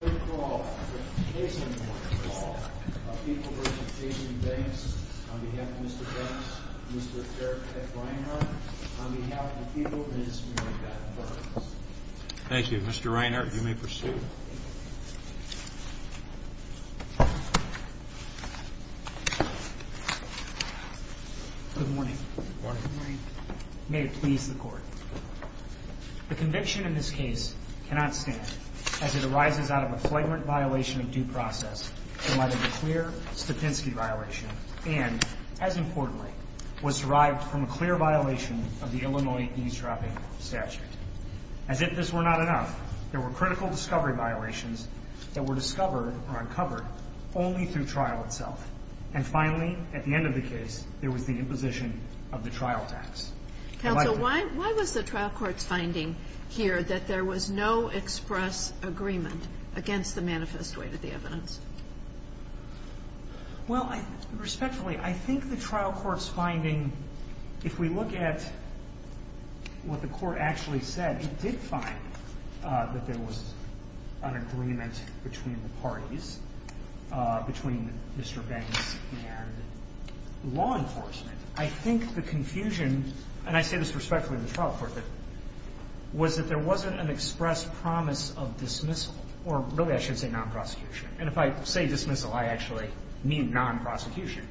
on behalf of Mr. Banks, Mr. Derek F. Reinhardt, on behalf of the people of the district of Bethel Park. Thank you. Mr. Reinhardt, you may proceed. Good morning. Good morning. May it please the Court, the conviction in this case cannot stand as it arises out of a flagrant violation of due process that might have been a clear Stavinsky violation and, as importantly, was derived from a clear violation of the Illinois eavesdropping statute. As if this were not enough, there were critical discovery violations that were discovered or uncovered only through trial itself. And finally, at the end of the case, there was the imposition of the trial tax. Counsel, why was the trial court's finding here that there was no express agreement against the manifest weight of the evidence? Well, respectfully, I think the trial court's finding, if we look at what the Court actually said, it did find that there was an agreement between the parties, between Mr. Banks and law enforcement. I think the confusion, and I say this respectfully to the trial court, was that there wasn't an express promise of dismissal or, really, I should say non-prosecution. And if I say dismissal, I actually mean non-prosecution.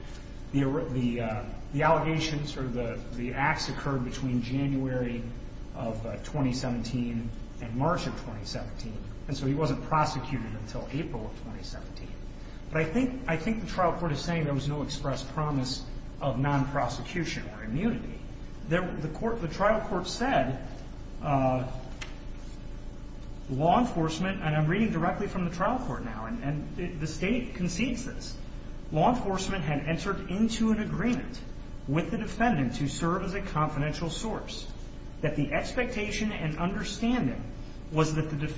The allegations or the acts occurred between January of 2017 and March of 2017, and so I think the trial court is saying there was no express promise of non-prosecution or immunity. The trial court said law enforcement, and I'm reading directly from the trial court now, and the State concedes this, law enforcement had entered into an agreement with the defendant to serve as a confidential source, that the expectation and understanding was that the less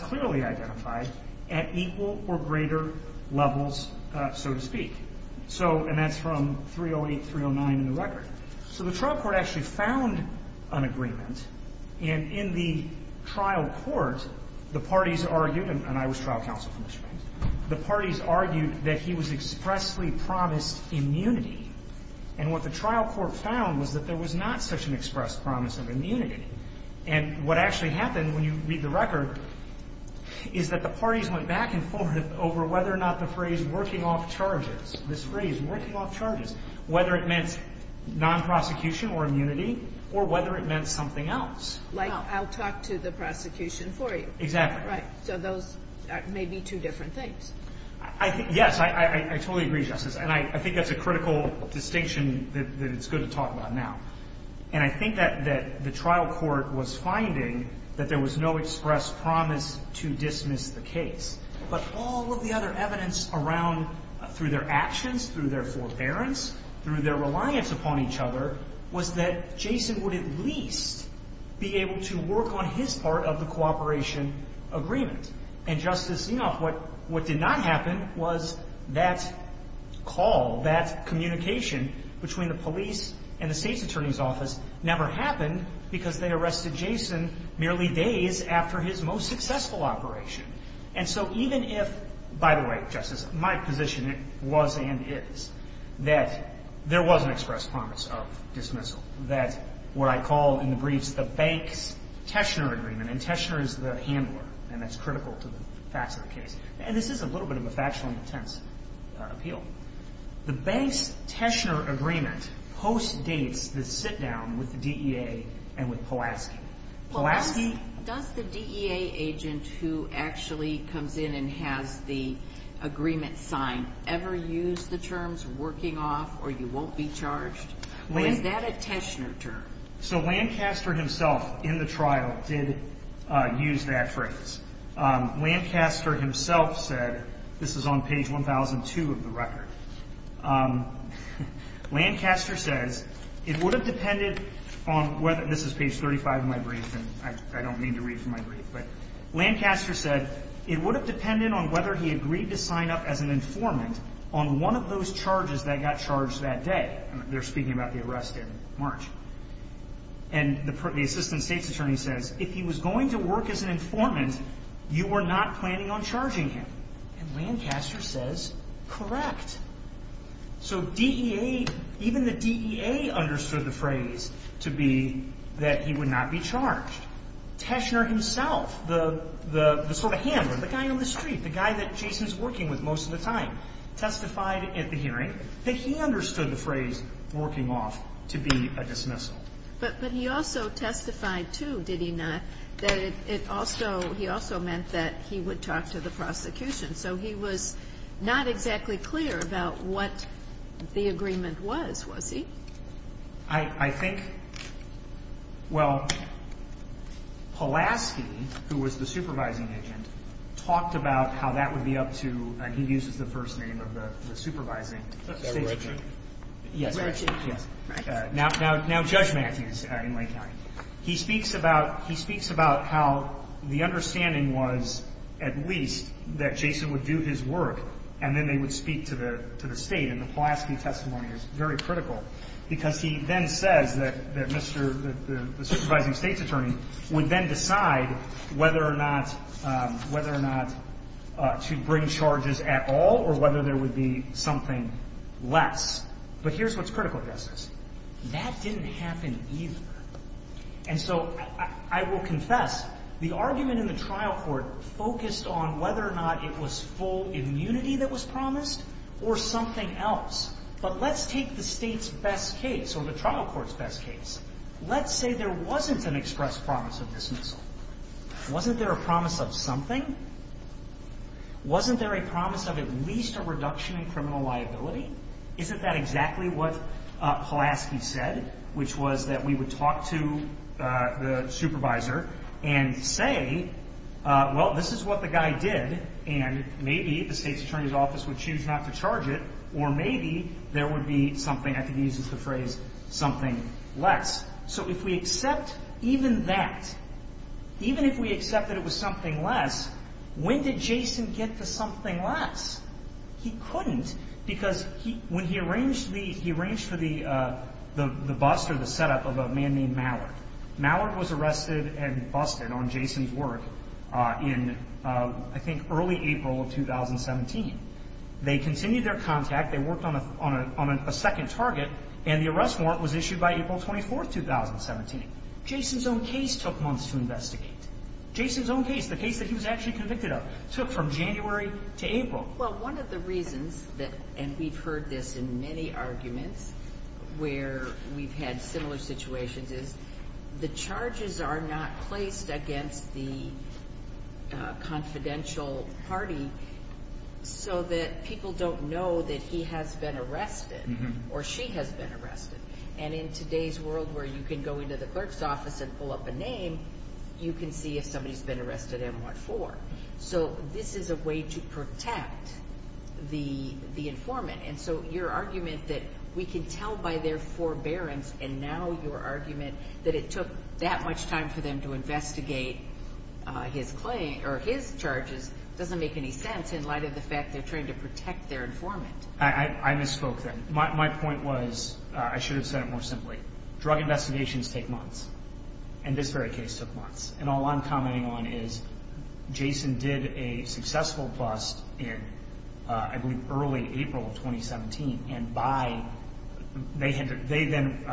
clearly identified at equal or greater levels, so to speak. So and that's from 308, 309 in the record. So the trial court actually found an agreement, and in the trial court, the parties argued, and I was trial counsel for Mr. Banks, the parties argued that he was expressly promised immunity, and what the trial court found was that there was not such an express promise of immunity. And what actually happened, when you read the record, is that the parties went back and forth over whether or not the phrase working off charges, this phrase working off charges, whether it meant non-prosecution or immunity, or whether it meant something else. Like I'll talk to the prosecution for you. Exactly. Right. So those may be two different things. Yes, I totally agree, Justice, and I think that's a critical distinction that it's good to talk about now. And I think that the trial court was finding that there was no express promise to dismiss the case. But all of the other evidence around, through their actions, through their forbearance, through their reliance upon each other, was that Jason would at least be able to work on his part of the cooperation agreement. And Justice, you know, what did not happen was that call, that communication between the police and the State's Attorney's Office, never happened because they arrested Jason merely days after his most successful operation. And so even if, by the way, Justice, my position was and is that there was an express promise of dismissal, that what I call in the briefs the Banks-Teshner agreement, and Teshner is the handler, and that's critical to the facts of the case. And this is a little bit of a factually intense appeal. The Banks-Teshner agreement postdates the sit-down with the DEA and with Pulaski. Pulaski... Well, does the DEA agent who actually comes in and has the agreement signed ever use the terms working off or you won't be charged, or is that a Teshner term? So Lancaster himself, in the trial, did use that phrase. Lancaster himself said, this is on page 1002 of the record, Lancaster says, it would have depended on whether... This is page 35 of my brief, and I don't mean to read from my brief, but Lancaster said, it would have depended on whether he agreed to sign up as an informant on one of those charges that got charged that day. They're speaking about the arrest in March. And the assistant state's attorney says, if he was going to work as an informant, you were not planning on charging him, and Lancaster says, correct. So DEA, even the DEA understood the phrase to be that he would not be charged. Teshner himself, the sort of handler, the guy on the street, the guy that Jason's working with most of the time, testified at the hearing that he understood the phrase working off to be a dismissal. But he also testified, too, did he not, that it also, he also meant that he would talk to the prosecution. So he was not exactly clear about what the agreement was, was he? I think, well, Pulaski, who was the supervising agent, talked about how that would be up to, and he uses the first name of the supervising state attorney. Yes, now Judge Matthews in Lake County, he speaks about, he speaks about how the understanding was, at least, that Jason would do his work, and then they would speak to the state. And the Pulaski testimony is very critical, because he then says that the supervising state's attorney would then decide whether or not to bring charges at all, or whether there would be something less. But here's what's critical, Justice. That didn't happen either. And so I will confess, the argument in the trial court focused on whether or not it was full immunity that was promised, or something else. But let's take the state's best case, or the trial court's best case. Let's say there wasn't an express promise of dismissal. Wasn't there a promise of something? Wasn't there a promise of at least a reduction in criminal liability? Isn't that exactly what Pulaski said, which was that we would talk to the supervisor and say, well, this is what the guy did, and maybe the state's attorney's office would choose not to charge it, or maybe there would be something, I think he uses the phrase, something less. So if we accept even that, even if we accept that it was something less, when did Jason get to something less? He couldn't, because when he arranged for the bust or the setup of a man named Mallard. Mallard was arrested and busted on Jason's work in, I think, early April of 2017. They continued their contact, they worked on a second target, and the arrest warrant was issued by April 24th, 2017. Jason's own case took months to investigate. Jason's own case, the case that he was actually convicted of, took from January to April. Well, one of the reasons that, and we've heard this in many arguments where we've had similar situations, is the charges are not placed against the confidential party, so that people don't know that he has been arrested, or she has been arrested. And in today's world, where you can go into the clerk's office and pull up a name, you can see if somebody's been arrested and what for. So this is a way to protect the informant. And so your argument that we can tell by their forbearance, and now your argument that it doesn't make any sense in light of the fact that they're trying to protect their informant. I misspoke there. My point was, I should have said it more simply. Drug investigations take months, and this very case took months. And all I'm commenting on is, Jason did a successful bust in, I believe, early April of 2017, and by, they then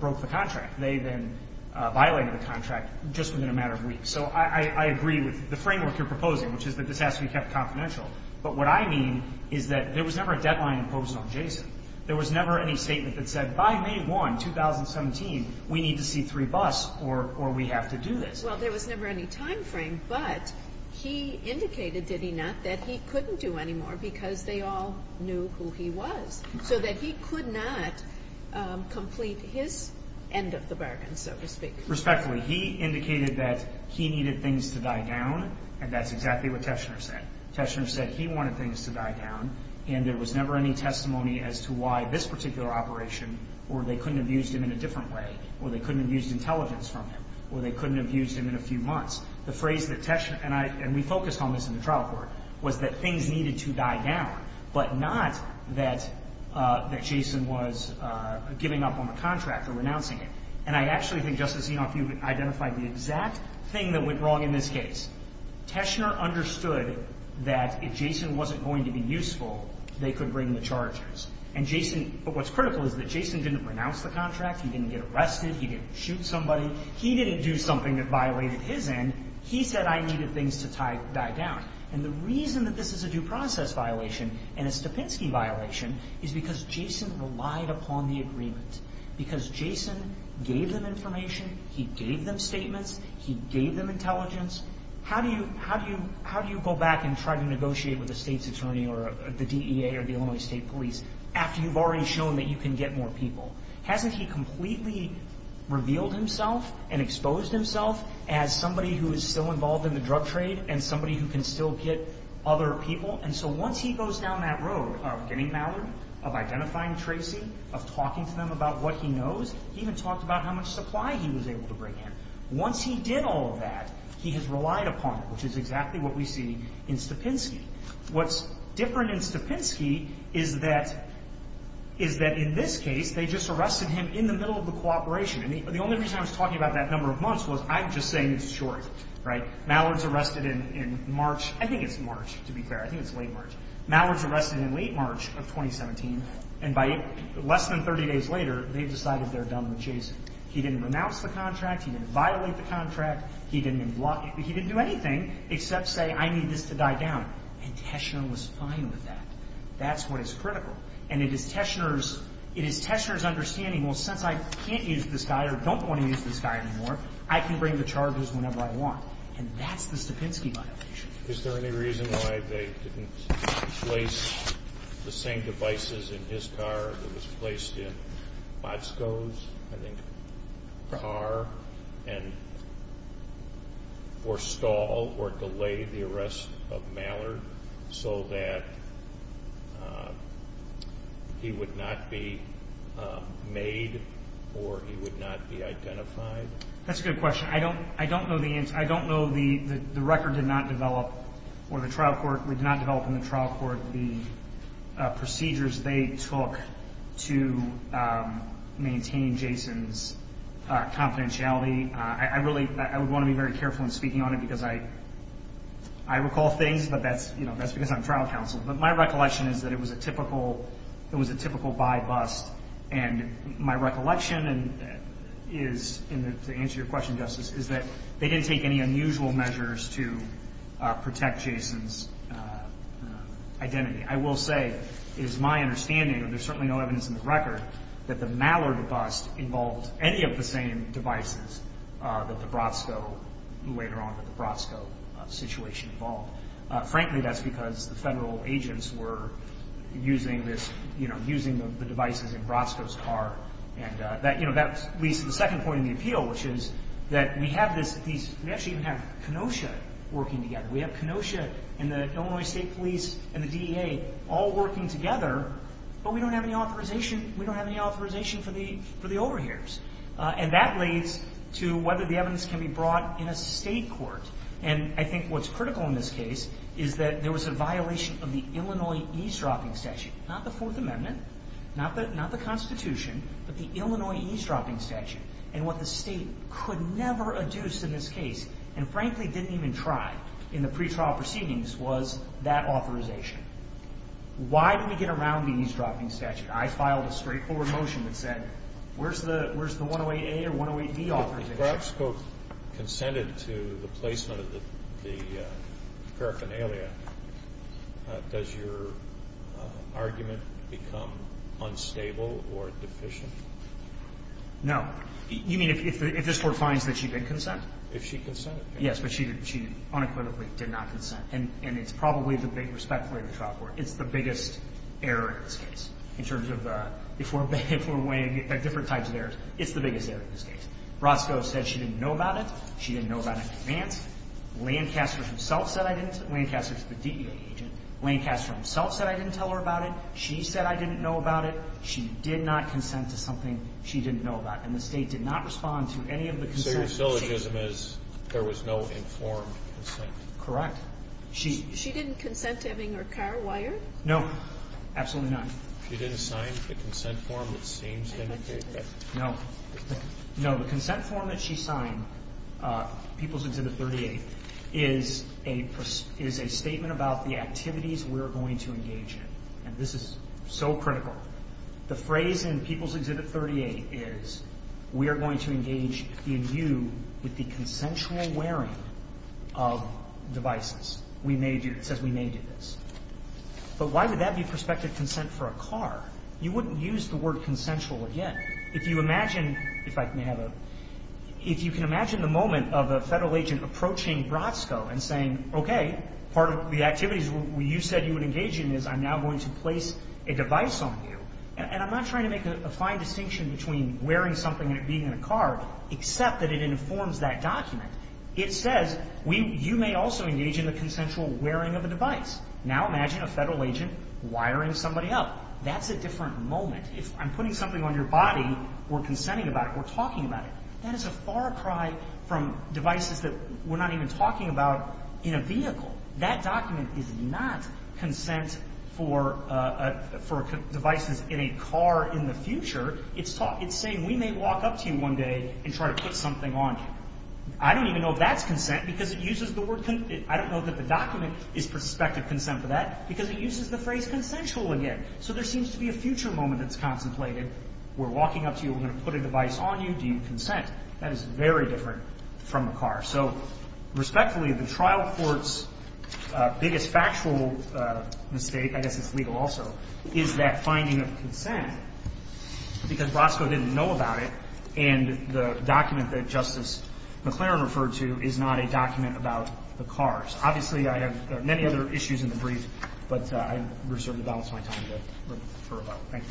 broke the contract. They then violated the contract just within a matter of weeks. So I agree with the framework you're proposing, which is that this has to be kept confidential. But what I mean is that there was never a deadline imposed on Jason. There was never any statement that said, by May 1, 2017, we need to see three busts, or we have to do this. Well, there was never any time frame, but he indicated, did he not, that he couldn't do any more, because they all knew who he was. So that he could not complete his end of the bargain, so to speak. Respectfully. He indicated that he needed things to die down, and that's exactly what Teshner said. Teshner said he wanted things to die down, and there was never any testimony as to why this particular operation, or they couldn't have used him in a different way, or they couldn't have used intelligence from him, or they couldn't have used him in a few months. The phrase that Teshner, and we focused on this in the trial court, was that things needed to die down, but not that Jason was giving up on the contract or renouncing it. And I actually think, Justice Enoff, you've identified the exact thing that went wrong in this case. Teshner understood that if Jason wasn't going to be useful, they could bring the chargers. And what's critical is that Jason didn't renounce the contract, he didn't get arrested, he didn't shoot somebody, he didn't do something that violated his end. He said, I needed things to die down. And the reason that this is a due process violation, and a Stapitsky violation, is because Jason gave them information, he gave them statements, he gave them intelligence. How do you go back and try to negotiate with a state's attorney, or the DEA, or the Illinois State Police, after you've already shown that you can get more people? Hasn't he completely revealed himself and exposed himself as somebody who is still involved in the drug trade, and somebody who can still get other people? And so once he goes down that road of getting Mallard, of identifying Tracy, of talking to them about what he knows, he even talked about how much supply he was able to bring in. Once he did all of that, he has relied upon it, which is exactly what we see in Stapitsky. What's different in Stapitsky is that in this case, they just arrested him in the middle of the cooperation. And the only reason I was talking about that number of months was, I'm just saying it's short, right? Mallard's arrested in March, I think it's March, to be fair, I think it's late March. Mallard's arrested in late March of 2017, and by less than 30 days later, they've decided they're done with Jason. He didn't renounce the contract, he didn't violate the contract, he didn't block it, he didn't do anything except say, I need this to die down. And Teschner was fine with that. That's what is critical. And it is Teschner's, it is Teschner's understanding, well, since I can't use this guy or don't want to use this guy anymore, I can bring the charges whenever I want. And that's the Stapitsky violation. Is there any reason why they didn't place the same devices in his car that was placed in Botsko's, I think, car and, or stall or delay the arrest of Mallard so that he would not be made or he would not be identified? That's a good question. I don't know the answer. I don't know the record did not develop, or the trial court did not develop in the trial court the procedures they took to maintain Jason's confidentiality. I really, I would want to be very careful in speaking on it because I recall things, but that's, you know, that's because I'm trial counsel. But my recollection is that it was a typical, it was a typical buy bust. And my recollection is, to answer your question, Justice, is that they didn't take any unusual measures to protect Jason's identity. I will say, it is my understanding, and there's certainly no evidence in the record, that the Mallard bust involved any of the same devices that the Botsko, later on, that the Botsko situation involved. Frankly, that's because the federal agents were using this, you know, using the devices in Botsko's car. And that, you know, that leads to the second point in the appeal, which is that we have this, we actually have Kenosha working together. We have Kenosha and the Illinois State Police and the DEA all working together, but we don't have any authorization, we don't have any authorization for the overhears. And that leads to whether the evidence can be brought in a state court. And I think what's critical in this case is that there was a violation of the Illinois eavesdropping statute. Not the Fourth Amendment, not the Constitution, but the Illinois eavesdropping statute. And what the state could never adduce in this case, and frankly didn't even try in the pretrial proceedings, was that authorization. Why did we get around the eavesdropping statute? I filed a straightforward motion that said, where's the, where's the 108A or 108B authorization? If Roscoe consented to the placement of the paraphernalia, does your argument become unstable or deficient? No. You mean if this Court finds that she did consent? If she consented, yes. Yes, but she unequivocally did not consent. And it's probably the big respect for the trial court. It's the biggest error in this case, in terms of, if we're weighing different types of errors, it's the biggest error in this case. Roscoe said she didn't know about it. She didn't know about it in advance. Lancaster himself said I didn't. Lancaster's the DEA agent. Lancaster himself said I didn't tell her about it. She said I didn't know about it. She did not consent to something she didn't know about. And the state did not respond to any of the consents. So your syllogism is, there was no informed consent. Correct. She. She didn't consent to having her car wired? No, absolutely not. She didn't sign the consent form that seems to indicate that. No. No, the consent form that she signed, People's Exhibit 38, is a statement about the activities we're going to engage in. And this is so critical. The phrase in People's Exhibit 38 is, we are going to engage in you with the consensual wearing of devices. We may do, it says we may do this. But why would that be prospective consent for a car? You wouldn't use the word consensual again. If you imagine, if I may have a, if you can imagine the moment of a federal agent approaching BROTSCO and saying, okay, part of the activities you said you would engage in is I'm now going to place a device on you. And I'm not trying to make a fine distinction between wearing something and it being in a car, except that it informs that document. It says, you may also engage in the consensual wearing of a device. Now imagine a federal agent wiring somebody up. That's a different moment. If I'm putting something on your body, we're consenting about it, we're talking about it. That is a far cry from devices that we're not even talking about in a vehicle. That document is not consent for devices in a car in the future. It's saying we may walk up to you one day and try to put something on you. I don't even know if that's consent because it uses the word, I don't know that the document is prospective consent for that because it uses the phrase consensual again. So there seems to be a future moment that's contemplated. We're walking up to you, we're going to put a device on you, do you consent? That is very different from a car. So respectfully, the trial court's biggest factual mistake, I guess it's legal also, is that finding of consent because BROTSCO didn't know about it and the document that Justice McClaren referred to is not a document about the cars. Obviously, I have many other issues in the brief, but I reserve the balance of my time for rebuttal. Thank you.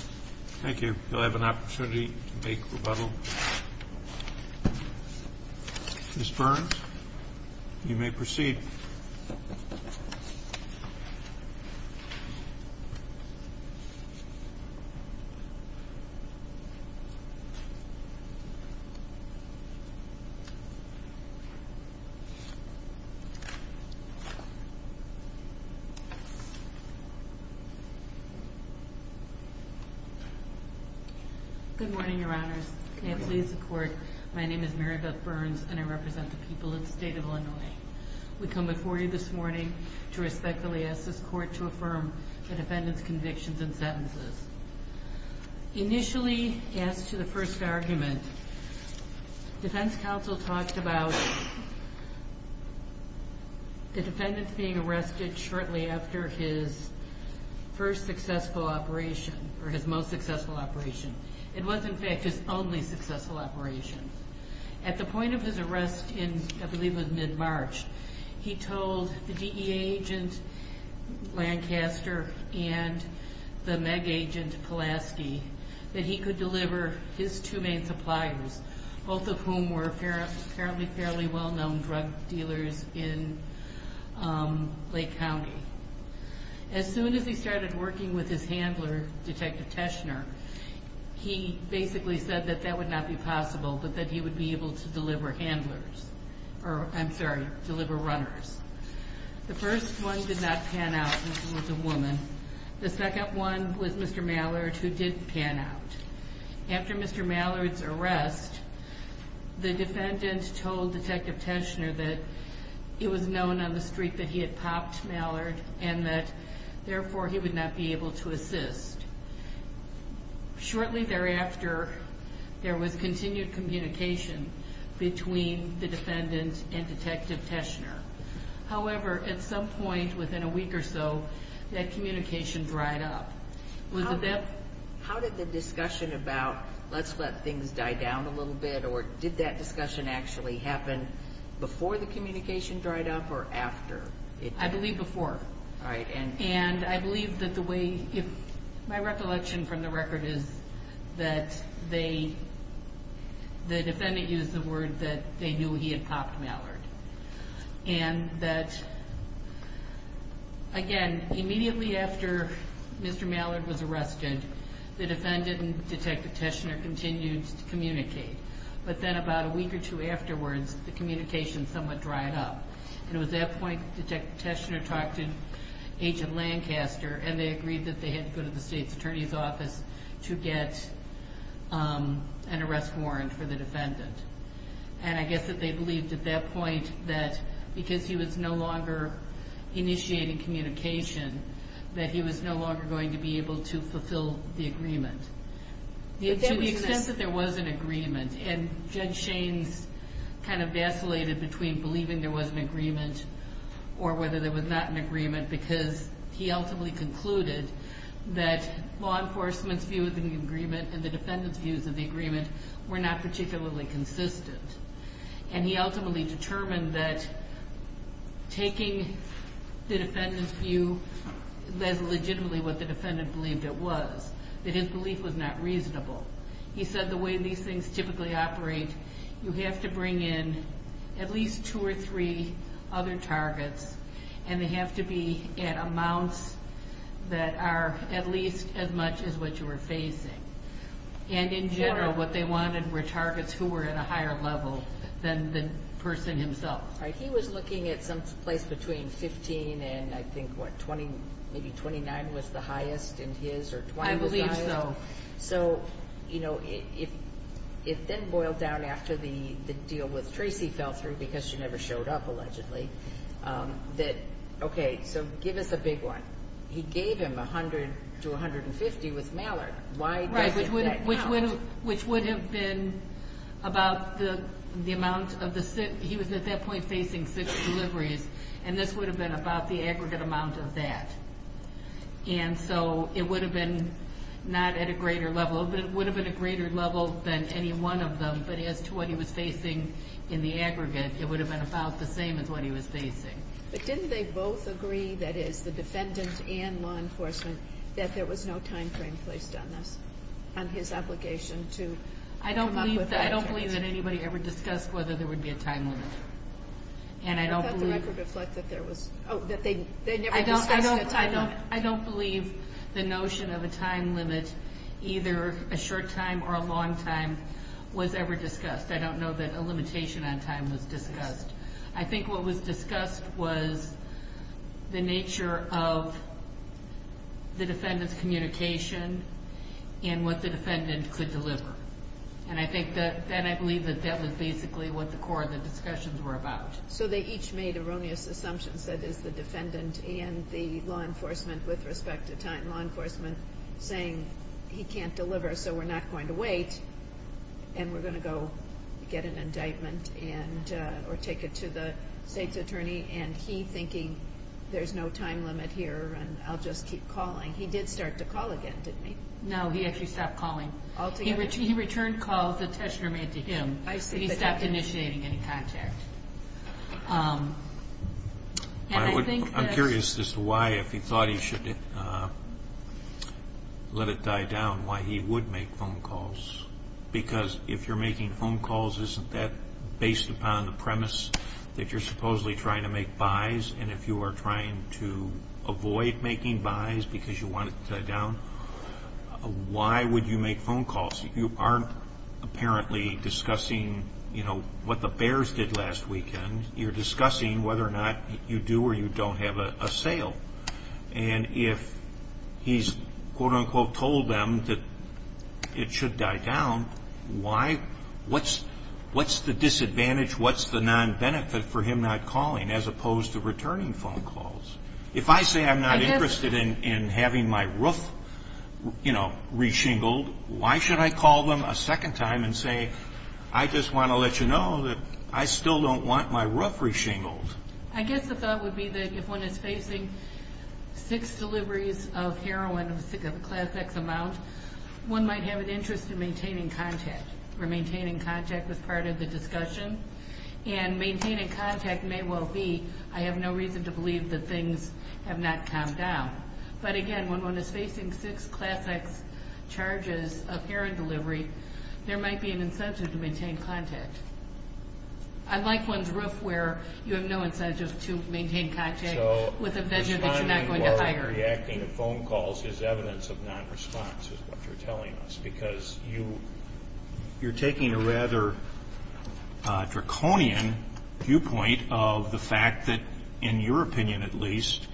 Thank you. You'll have an opportunity to make rebuttal. Ms. Burns, you may proceed. Good morning, your honors. Can I please have support? My name is Mary Beth Burns and I represent the people of the state of Illinois. We come before you this morning to respectfully ask this court to affirm the defendant's convictions and sentences. Initially, as to the first argument, defense counsel talked about the defendant being arrested shortly after his first successful operation, or his most successful operation. It was, in fact, his only successful operation. At the point of his arrest in, I believe it was mid-March, he told the DEA agent Lancaster and the MEG agent Pulaski that he could deliver his two main suppliers, both of whom were apparently fairly well-known drug dealers in Lake County. As soon as he started working with his handler, Detective Teschner, he basically said that that would not be possible, but that he would be able to deliver handlers. Or, I'm sorry, deliver runners. The first one did not pan out, this was a woman. The second one was Mr. Mallard, who didn't pan out. After Mr. Mallard's arrest, the defendant told Detective Teschner that it was known on the street that he had popped Mallard and that, therefore, he would not be able to assist. Shortly thereafter, there was continued communication between the defendant and Detective Teschner. However, at some point within a week or so, that communication dried up. Was it that- How did the discussion about, let's let things die down a little bit, or did that discussion actually happen before the communication dried up or after? I believe before. All right, and- And I believe that the way, if my recollection from the record is that they, the defendant used the word that they knew he had popped Mallard. And that, again, immediately after Mr. Mallard was arrested, the defendant and Detective Teschner continued to communicate. But then about a week or two afterwards, the communication somewhat dried up. And it was at that point Detective Teschner talked to Agent Lancaster and they agreed that they had to go to the state's attorney's office to get an arrest warrant for the defendant. And I guess that they believed at that point that because he was no longer initiating communication, that he was no longer going to be able to fulfill the agreement. To the extent that there was an agreement, and Judge Shaines kind of vacillated between believing there was an agreement or whether there was not an agreement. Because he ultimately concluded that law enforcement's view of the agreement and the defendant's views of the agreement were not particularly consistent. And he ultimately determined that taking the defendant's view, that's legitimately what the defendant believed it was, that his belief was not reasonable. He said the way these things typically operate, you have to bring in at least two or three other targets, and they have to be at amounts that are at least as much as what you were facing. And in general, what they wanted were targets who were at a higher level than the person himself. All right, he was looking at someplace between 15 and I think what, 20, maybe 29 was the highest in his, or 20 was the highest? I believe so. So, it then boiled down after the deal with Tracy fell through, because she never showed up allegedly, that okay, so give us a big one. He gave him 100 to 150 with Mallard. Why doesn't that count? Which would have been about the amount of the, he was at that point facing six deliveries. And this would have been about the aggregate amount of that. And so, it would have been not at a greater level, but it would have been a greater level than any one of them. But as to what he was facing in the aggregate, it would have been about the same as what he was facing. But didn't they both agree, that is, the defendant and law enforcement, that there was no time frame placed on this, on his obligation to come up with that? I don't believe that anybody ever discussed whether there would be a time limit. And I don't believe- I thought the record reflected that there was, that they never discussed a time limit. I don't believe the notion of a time limit, either a short time or a long time, was ever discussed. I don't know that a limitation on time was discussed. I think what was discussed was the nature of the defendant's communication and what the defendant could deliver. And I think that, then I believe that that was basically what the core of the discussions were about. So they each made erroneous assumptions, that is, the defendant and the law enforcement, with respect to time law enforcement, saying he can't deliver, so we're not going to wait, and we're gonna go get an indictment and, or take it to the state's attorney, and he thinking, there's no time limit here, and I'll just keep calling. He did start to call again, didn't he? No, he actually stopped calling. All together? He returned calls that Tushner made to him. I see, but- He stopped initiating any contact. And I think that- I'm curious as to why, if he thought he should let it die down, why he would make phone calls. Because if you're making phone calls, isn't that based upon the premise that you're supposedly trying to make buys? And if you are trying to avoid making buys because you want it to die down, why would you make phone calls? You aren't apparently discussing what the Bears did last weekend. You're discussing whether or not you do or you don't have a sale. And if he's quote-unquote told them that it should die down, why, what's the disadvantage, what's the non-benefit for him not calling, as opposed to returning phone calls? If I say I'm not interested in having my roof, you know, re-shingled, why should I call them a second time and say, I just want to let you know that I still don't want my roof re-shingled? I guess the thought would be that if one is facing six deliveries of heroin of a class X amount, one might have an interest in maintaining contact or maintaining contact as part of the discussion. And maintaining contact may well be, I have no reason to believe that things have not calmed down. But again, when one is facing six class X charges of heroin delivery, there might be an incentive to maintain contact. I like one's roof where you have no incentive to maintain contact with a vendor that you're not going to hire. Responding while reacting to phone calls is evidence of non-response is what you're telling us. Because you're taking a rather draconian viewpoint of the fact that, in your opinion at least,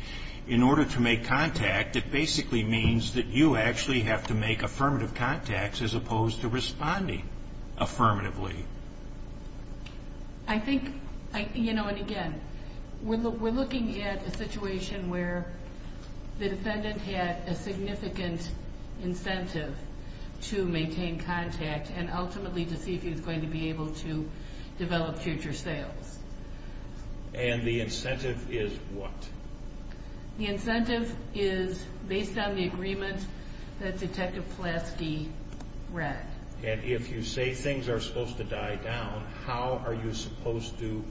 in order to make contact, it basically means that you actually have to make affirmative contacts as opposed to responding affirmatively. I think, you know, and again, we're looking at a situation where the defendant had a significant incentive to maintain contact and ultimately to see if he was going to be able to develop future sales. And the incentive is what? The incentive is based on the agreement that Detective Pulaski read. And if you say things are supposed to die down, how are you supposed to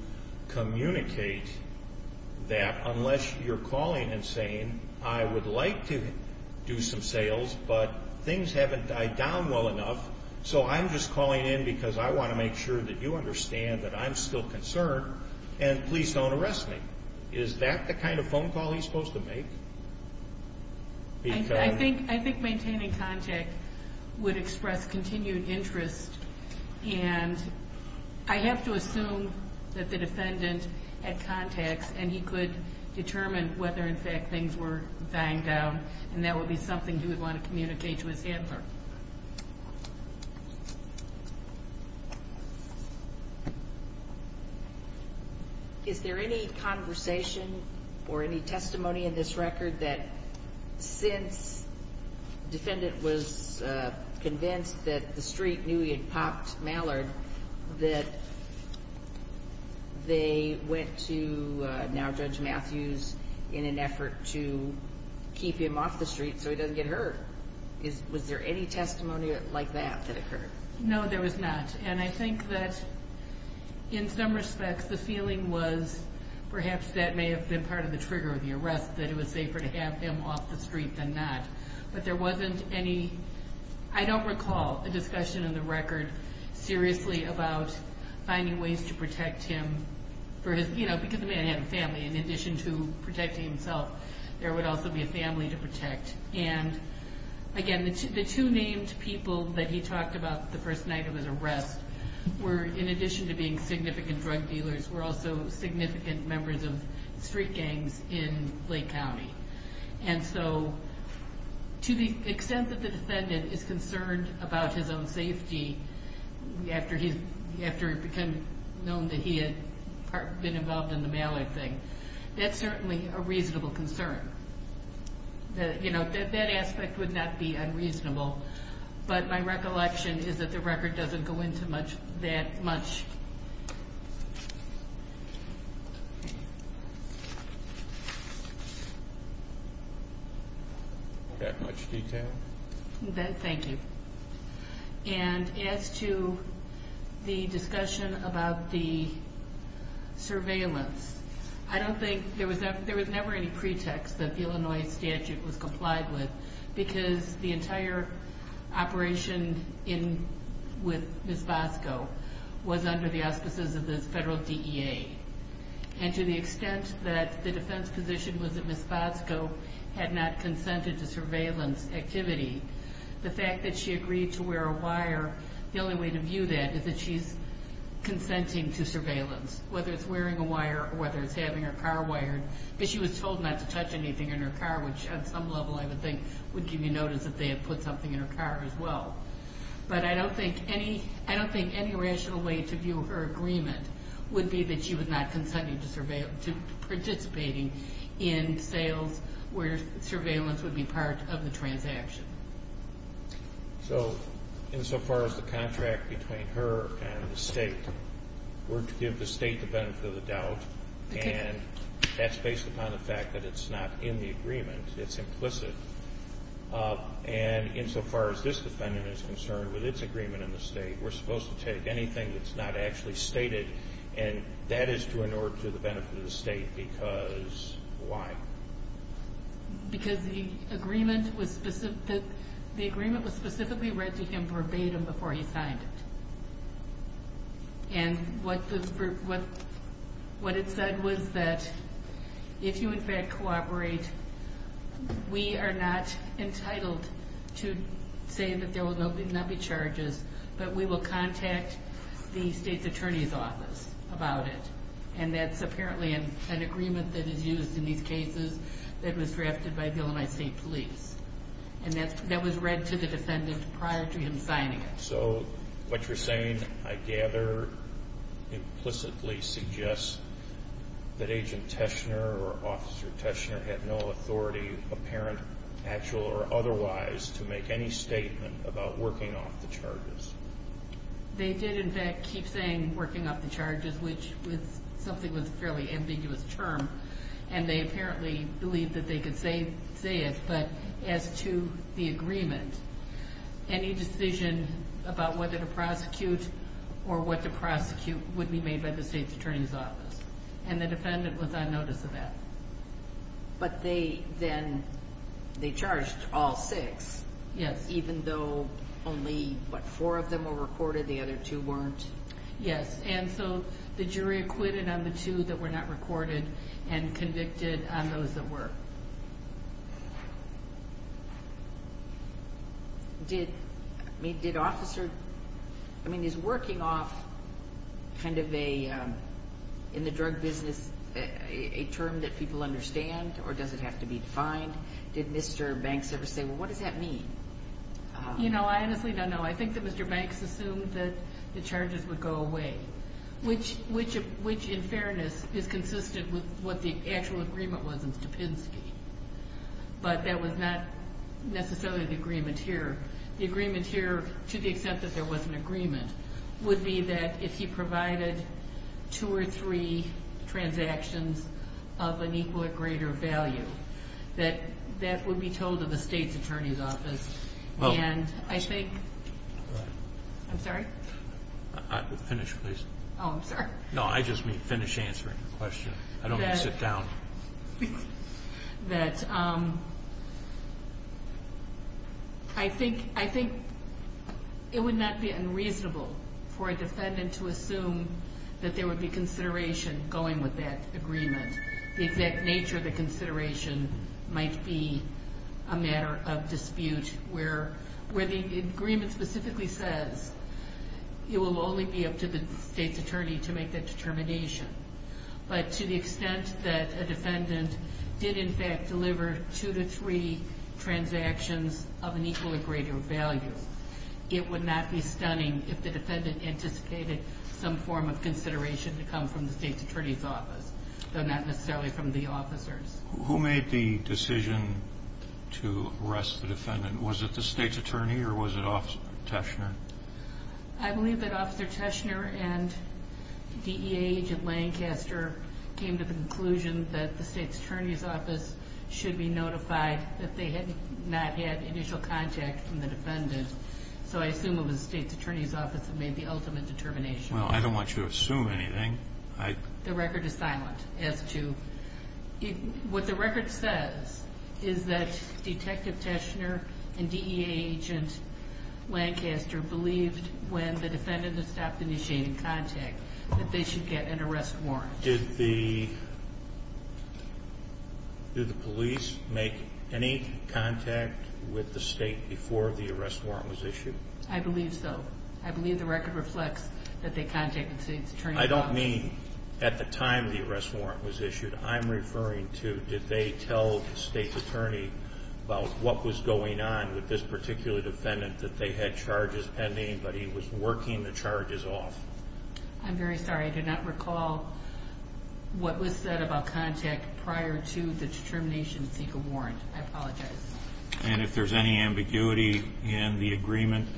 communicate that? Unless you're calling and saying, I would like to do some sales, but things haven't died down well enough, so I'm just calling in because I want to make sure that you understand that I'm still concerned, and please don't arrest me. Is that the kind of phone call he's supposed to make? I think maintaining contact would express continued interest, and I have to assume that the defendant had contacts and he could determine whether, in fact, things were dying down, and that would be something he would want to communicate to his handler. Is there any conversation or any testimony in this record that since the defendant was convinced that the street knew he had popped Mallard, that they went to now Judge Matthews in an effort to keep him off the street so he doesn't get hurt? Was there any testimony like that that occurred? No, there was not. And I think that in some respects, the feeling was perhaps that may have been part of the trigger of the arrest, that it was safer to have him off the street than not. But there wasn't any, I don't recall, a discussion in the record seriously about finding ways to protect him, because the man had a family, and in addition to protecting himself, there would also be a family to protect. And, again, the two named people that he talked about the first night of his arrest were, in addition to being significant drug dealers, were also significant members of street gangs in Lake County. And so to the extent that the defendant is concerned about his own safety after it became known that he had been involved in the Mallard thing, that's certainly a reasonable concern. You know, that aspect would not be unreasonable. But my recollection is that the record doesn't go into that much detail. Thank you. And as to the discussion about the surveillance, I don't think there was ever any pretext that the Illinois statute was complied with, because the entire operation with Ms. Bosco was under the auspices of the federal DEA. And to the extent that the defense position was that Ms. Bosco had not consented to surveillance activity, the fact that she agreed to wear a wire, the only way to view that is that she's consenting to surveillance, whether it's wearing a wire or whether it's having her car wired. But she was told not to touch anything in her car, which on some level I would think would give you notice that they had put something in her car as well. But I don't think any rational way to view her agreement would be that she was not consenting to participating in sales where surveillance would be part of the transaction. So insofar as the contract between her and the state, we're to give the state the benefit of the doubt. And that's based upon the fact that it's not in the agreement. It's implicit. And insofar as this defendant is concerned, with its agreement in the state, we're supposed to take anything that's not actually stated. And that is due in order to the benefit of the state. Because why? Because the agreement was specifically read to him verbatim before he signed it. And what it said was that if you, in fact, cooperate, we are not entitled to say that there will not be charges, but we will contact the state's attorney's office about it. And that's apparently an agreement that is used in these cases that was drafted by Illinois State Police. And that was read to the defendant prior to him signing it. So what you're saying, I gather, implicitly suggests that Agent Teshner or Officer Teshner had no authority, apparent, actual, or otherwise, to make any statement about working off the charges. They did, in fact, keep saying working off the charges, which was something that was a fairly ambiguous term. And they apparently believed that they could say it. But as to the agreement, any decision about whether to prosecute or what to prosecute would be made by the state's attorney's office. And the defendant was on notice of that. But they then charged all six, even though only, what, four of them were recorded? The other two weren't? Yes. And so the jury acquitted on the two that were not recorded and convicted on those that were. Did Officer, I mean, is working off kind of a, in the drug business, a term that people understand or does it have to be defined? Did Mr. Banks ever say, well, what does that mean? You know, I honestly don't know. I think that Mr. Banks assumed that the charges would go away, which in fairness is consistent with what the actual agreement was in Stupinsky. But that was not necessarily the agreement here. The agreement here, to the extent that there was an agreement, would be that if he provided two or three transactions of an equal or greater value, that that would be told to the state's attorney's office. And I think, I'm sorry? Finish, please. Oh, I'm sorry. No, I just mean finish answering the question. I don't want to sit down. That I think it would not be unreasonable for a defendant to assume that there would be consideration going with that agreement. The exact nature of the consideration might be a matter of dispute where the agreement specifically says it will only be up to the state's attorney to make that determination. But to the extent that a defendant did, in fact, deliver two to three transactions of an equal or greater value, it would not be stunning if the defendant anticipated some form of consideration to come from the state's attorney's office, though not necessarily from the officers. Who made the decision to arrest the defendant? Was it the state's attorney or was it Officer Teschner? I believe that Officer Teschner and DEA Agent Lancaster came to the conclusion that the state's attorney's office should be notified that they had not had initial contact from the defendant. So I assume it was the state's attorney's office that made the ultimate determination. Well, I don't want you to assume anything. The record is silent. What the record says is that Detective Teschner and DEA Agent Lancaster believed when the defendant had stopped initiating contact that they should get an arrest warrant. Did the police make any contact with the state before the arrest warrant was issued? I believe so. I don't mean at the time the arrest warrant was issued. I'm referring to did they tell the state's attorney about what was going on with this particular defendant that they had charges pending, but he was working the charges off? I'm very sorry. I do not recall what was said about contact prior to the determination to seek a warrant. I apologize. And if there's any ambiguity in the agreement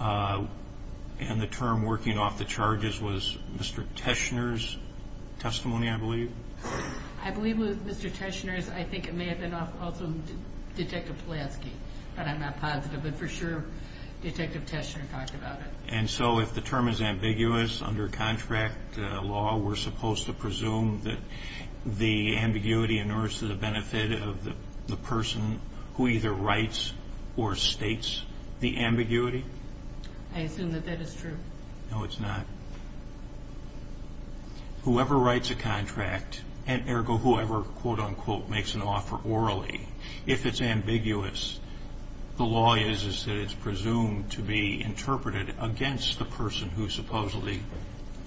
and the term working off the charges was Mr. Teschner's testimony, I believe? I believe it was Mr. Teschner's. I think it may have been also Detective Pulaski, but I'm not positive. But for sure Detective Teschner talked about it. And so if the term is ambiguous under contract law, we're supposed to presume that the ambiguity in order to the benefit of the person who either writes or states the ambiguity? I assume that that is true. No, it's not. Whoever writes a contract and, ergo, whoever, quote, unquote, makes an offer orally, if it's ambiguous, the law is that it's presumed to be interpreted against the person who supposedly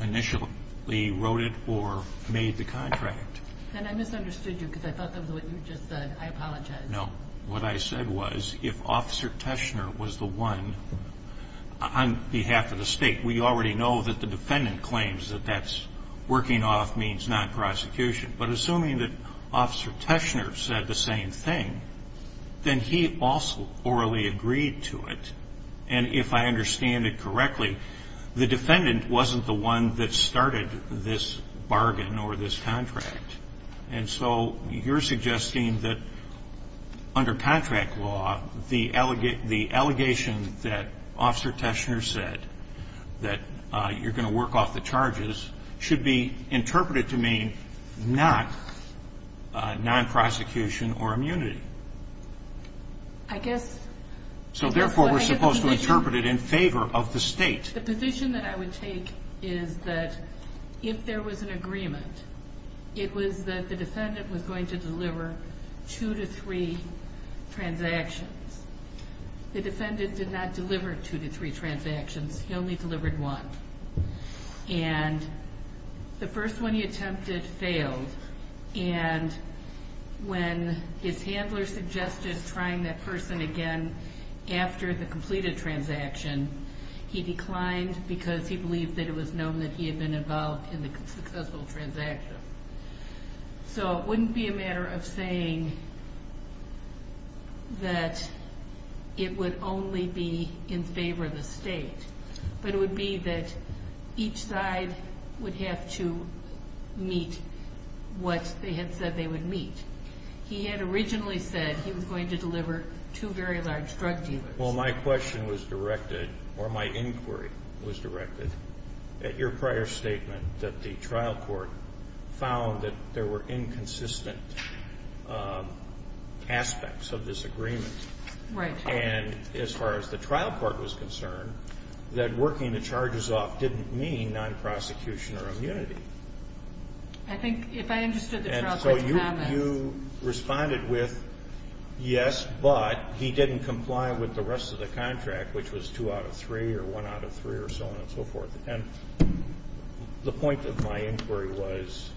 initially wrote it or made the contract. And I misunderstood you because I thought that was what you just said. I apologize. No. What I said was if Officer Teschner was the one, on behalf of the State, we already know that the defendant claims that that's working off means non-prosecution. But assuming that Officer Teschner said the same thing, then he also orally agreed to it. And if I understand it correctly, the defendant wasn't the one that started this bargain or this contract. And so you're suggesting that under contract law, the allegation that Officer Teschner said that you're going to work off the charges should be interpreted to mean not non-prosecution or immunity. I guess. So, therefore, we're supposed to interpret it in favor of the State. The position that I would take is that if there was an agreement, it was that the defendant was going to deliver two to three transactions. The defendant did not deliver two to three transactions. He only delivered one. And the first one he attempted failed. And when his handler suggested trying that person again after the completed transaction, he declined because he believed that it was known that he had been involved in the successful transaction. So it wouldn't be a matter of saying that it would only be in favor of the State, but it would be that each side would have to meet what they had said they would meet. He had originally said he was going to deliver two very large drug dealers. Well, my question was directed, or my inquiry was directed, at your prior statement that the trial court found that there were inconsistent aspects of this agreement. Right. And as far as the trial court was concerned, that working the charges off didn't mean non-prosecution or immunity. I think if I understood the trial court's comments. So you responded with, yes, but he didn't comply with the rest of the contract, which was two out of three or one out of three or so on and so forth. And the point of my inquiry was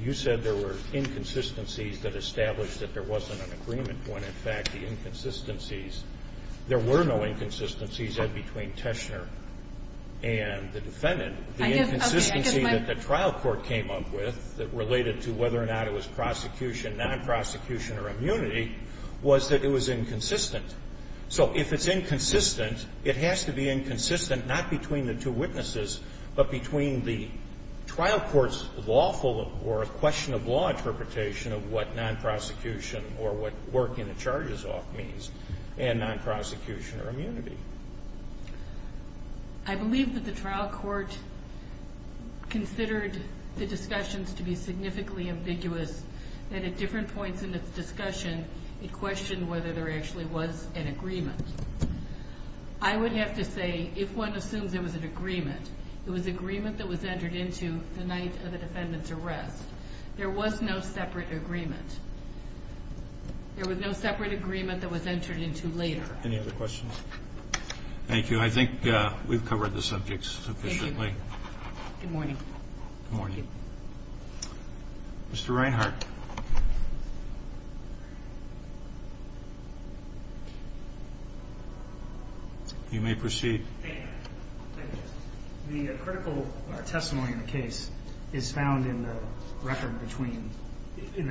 you said there were inconsistencies that established that there wasn't an agreement when, in fact, the inconsistencies, there were no inconsistencies between Teschner and the defendant. And the inconsistency that the trial court came up with that related to whether or not it was prosecution, non-prosecution or immunity was that it was inconsistent. So if it's inconsistent, it has to be inconsistent not between the two witnesses, but between the trial court's lawful or question of law interpretation of what non-prosecution or what working the charges off means and non-prosecution or immunity. I believe that the trial court considered the discussions to be significantly ambiguous, that at different points in its discussion, it questioned whether there actually was an agreement. I would have to say if one assumes there was an agreement, it was agreement that was entered into the night of the defendant's arrest. There was no separate agreement. There was no separate agreement that was entered into later. Any other questions? Thank you. I think we've covered the subjects sufficiently. Good morning. Good morning. Mr. Reinhart. You may proceed. Thank you. The critical testimony in the case is found in the record between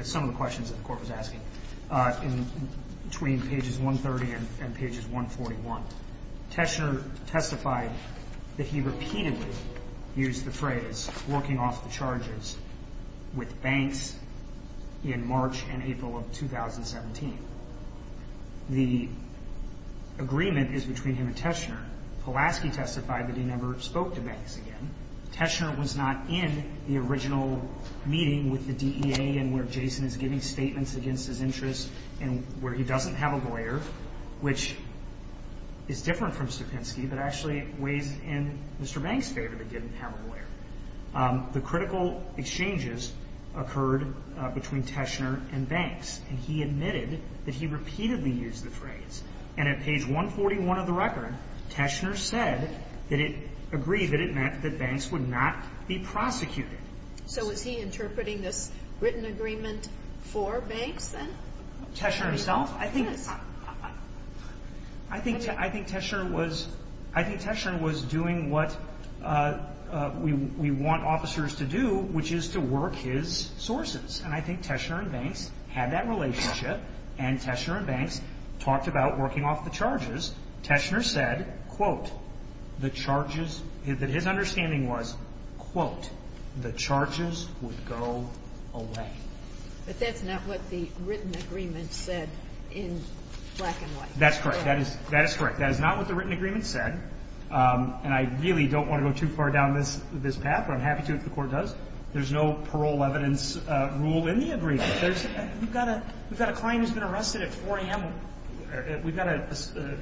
some of the questions that the court was asking, between pages 130 and pages 141. Teschner testified that he repeatedly used the phrase working off the charges with Banks in March and April of 2017. The agreement is between him and Teschner. Pulaski testified that he never spoke to Banks again. Teschner was not in the original meeting with the DEA and where Jason is giving statements against his interests and where he doesn't have a lawyer, which is different from Stupinsky, but actually weighs in Mr. Banks' favor that he didn't have a lawyer. The critical exchanges occurred between Teschner and Banks, and he admitted that he repeatedly used the phrase. And at page 141 of the record, Teschner said that he agreed that it meant that Banks would not be prosecuted. So is he interpreting this written agreement for Banks then? Teschner himself? Yes. I think Teschner was doing what we want officers to do, which is to work his sources. And I think Teschner and Banks had that relationship, and Teschner and Banks talked about working off the charges. Teschner said, quote, the charges that his understanding was, quote, the charges would go away. But that's not what the written agreement said in black and white. That's correct. That is correct. That is not what the written agreement said, and I really don't want to go too far down this path, but I'm happy to if the Court does. There's no parole evidence rule in the agreement. We've got a client who's been arrested at 4 a.m. We've got a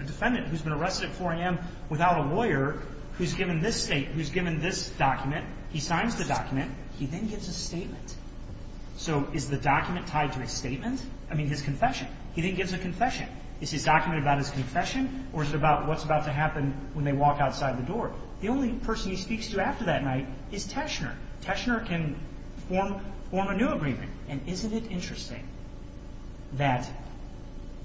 defendant who's been arrested at 4 a.m. without a lawyer who's given this statement, who's given this document. He signs the document. He then gives a statement. So is the document tied to his statement? I mean his confession. He then gives a confession. Is his document about his confession, or is it about what's about to happen when they walk outside the door? The only person he speaks to after that night is Teschner. Teschner can form a new agreement. And isn't it interesting that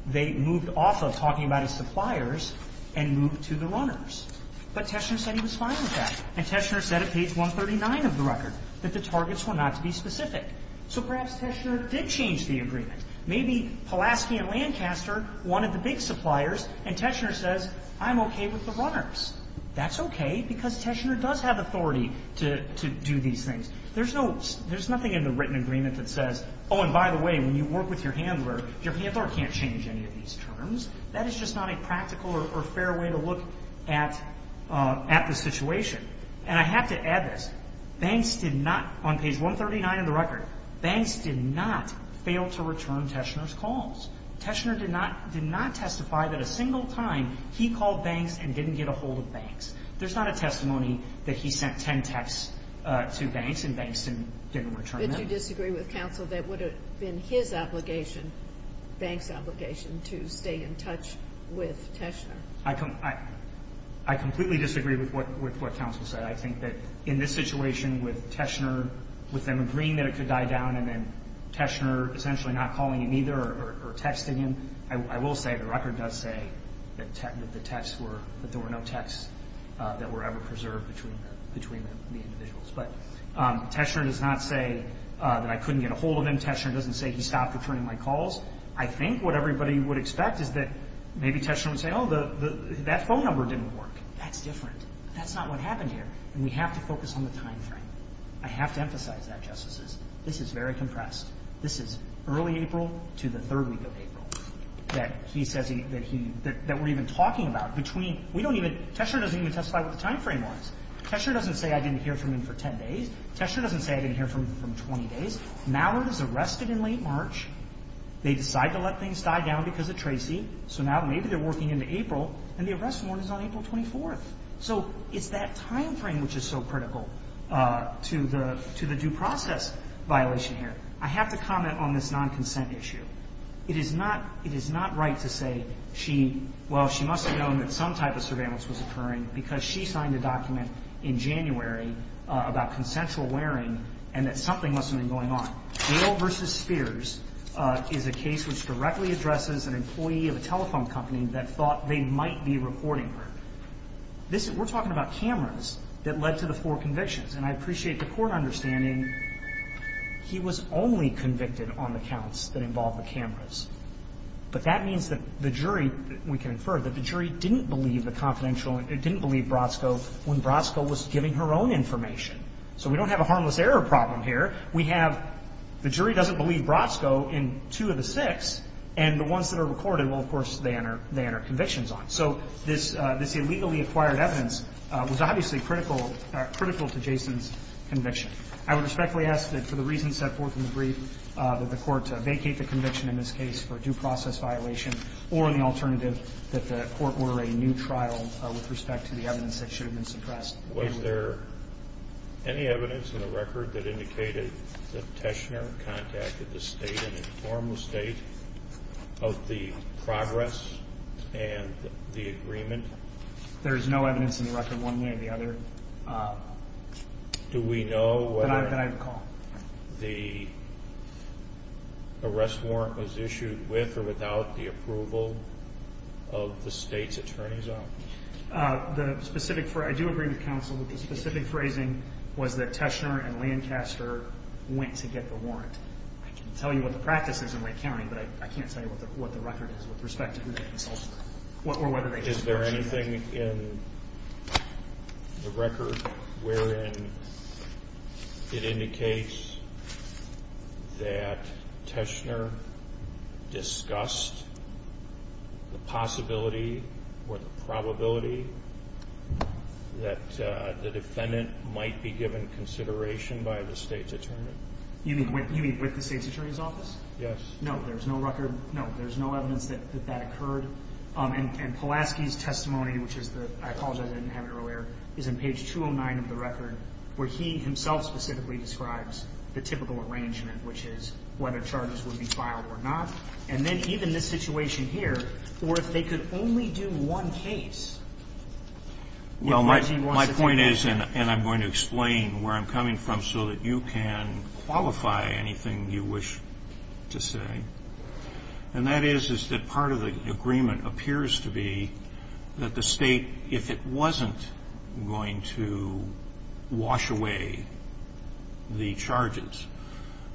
they moved off of talking about his suppliers and moved to the runners. But Teschner said he was fine with that, and Teschner said at page 139 of the record that the targets were not to be specific. So perhaps Teschner did change the agreement. Maybe Pulaski and Lancaster wanted the big suppliers, and Teschner says, I'm okay with the runners. That's okay because Teschner does have authority to do these things. There's nothing in the written agreement that says, oh, and by the way, when you work with your handler, your handler can't change any of these terms. That is just not a practical or fair way to look at the situation. And I have to add this. Banks did not, on page 139 of the record, banks did not fail to return Teschner's calls. Teschner did not testify that a single time he called banks and didn't get a hold of banks. There's not a testimony that he sent 10 texts to banks and banks didn't return them. Did you disagree with counsel that it would have been his obligation, banks' obligation to stay in touch with Teschner? I completely disagree with what counsel said. I think that in this situation with Teschner, with them agreeing that it could die down and then Teschner essentially not calling him either or texting him, I will say the record does say that the texts were, that there were no texts that were ever preserved between the individuals. But Teschner does not say that I couldn't get a hold of him. Teschner doesn't say he stopped returning my calls. I think what everybody would expect is that maybe Teschner would say, oh, that phone number didn't work. That's different. That's not what happened here. And we have to focus on the time frame. I have to emphasize that, Justices. This is very compressed. This is early April to the third week of April that he says that he, that we're even talking about. Between, we don't even, Teschner doesn't even testify what the time frame was. Teschner doesn't say I didn't hear from him for 10 days. Teschner doesn't say I didn't hear from him for 20 days. Mallard is arrested in late March. They decide to let things die down because of Tracy. So now maybe they're working into April. And the arrest warrant is on April 24th. So it's that time frame which is so critical to the due process violation here. I have to comment on this non-consent issue. It is not, it is not right to say she, well, she must have known that some type of surveillance was occurring because she signed a document in January about consensual wearing and that something must have been going on. Dale v. Spears is a case which directly addresses an employee of a telephone company that thought they might be reporting her. This is, we're talking about cameras that led to the four convictions. And I appreciate the court understanding he was only convicted on the counts that involved the cameras. But that means that the jury, we can infer, that the jury didn't believe the confidential, didn't believe Brodsko when Brodsko was giving her own information. So we don't have a harmless error problem here. We have the jury doesn't believe Brodsko in two of the six, and the ones that are recorded, well, of course, they enter convictions on. So this illegally acquired evidence was obviously critical to Jason's conviction. I would respectfully ask that for the reasons set forth in the brief, that the court vacate the conviction in this case for due process violation or on the alternative that the court order a new trial with respect to the evidence that should have been suppressed. Was there any evidence in the record that indicated that Teschner contacted the State to inform the State of the progress and the agreement? There is no evidence in the record one way or the other. Do we know whether the arrest warrant was issued with or without the approval of the State's attorney's office? The specific, I do agree with counsel, but the specific phrasing was that Teschner and Lancaster went to get the warrant. I can tell you what the practice is in Lake County, but I can't tell you what the record is with respect to who they consulted or whether they consulted. Is there anything in the record wherein it indicates that Teschner discussed the possibility or the probability that the defendant might be given consideration by the State's attorney? You mean with the State's attorney's office? Yes. No, there's no record. No, there's no evidence that that occurred. And Pulaski's testimony, which I apologize I didn't have it earlier, is in page 209 of the record where he himself specifically describes the typical arrangement, which is whether charges would be filed or not. And then even this situation here, or if they could only do one case. Well, my point is, and I'm going to explain where I'm coming from so that you can qualify anything you wish to say, and that is that part of the agreement appears to be that the State, if it wasn't going to wash away the charges,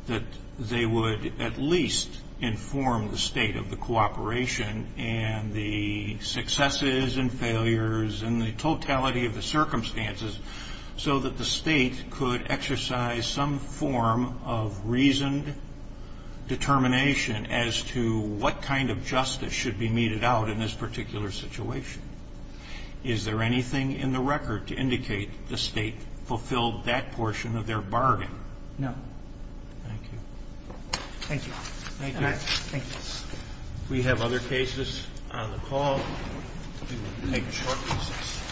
that they would at least inform the State of the cooperation and the successes and failures and the totality of the circumstances so that the State could exercise some form of reasoned determination as to what kind of justice should be meted out in this particular situation. Is there anything in the record to indicate the State fulfilled that portion of their bargain? No. Thank you. Thank you. Thank you. Thank you. If we have other cases on the call, we will take short recess.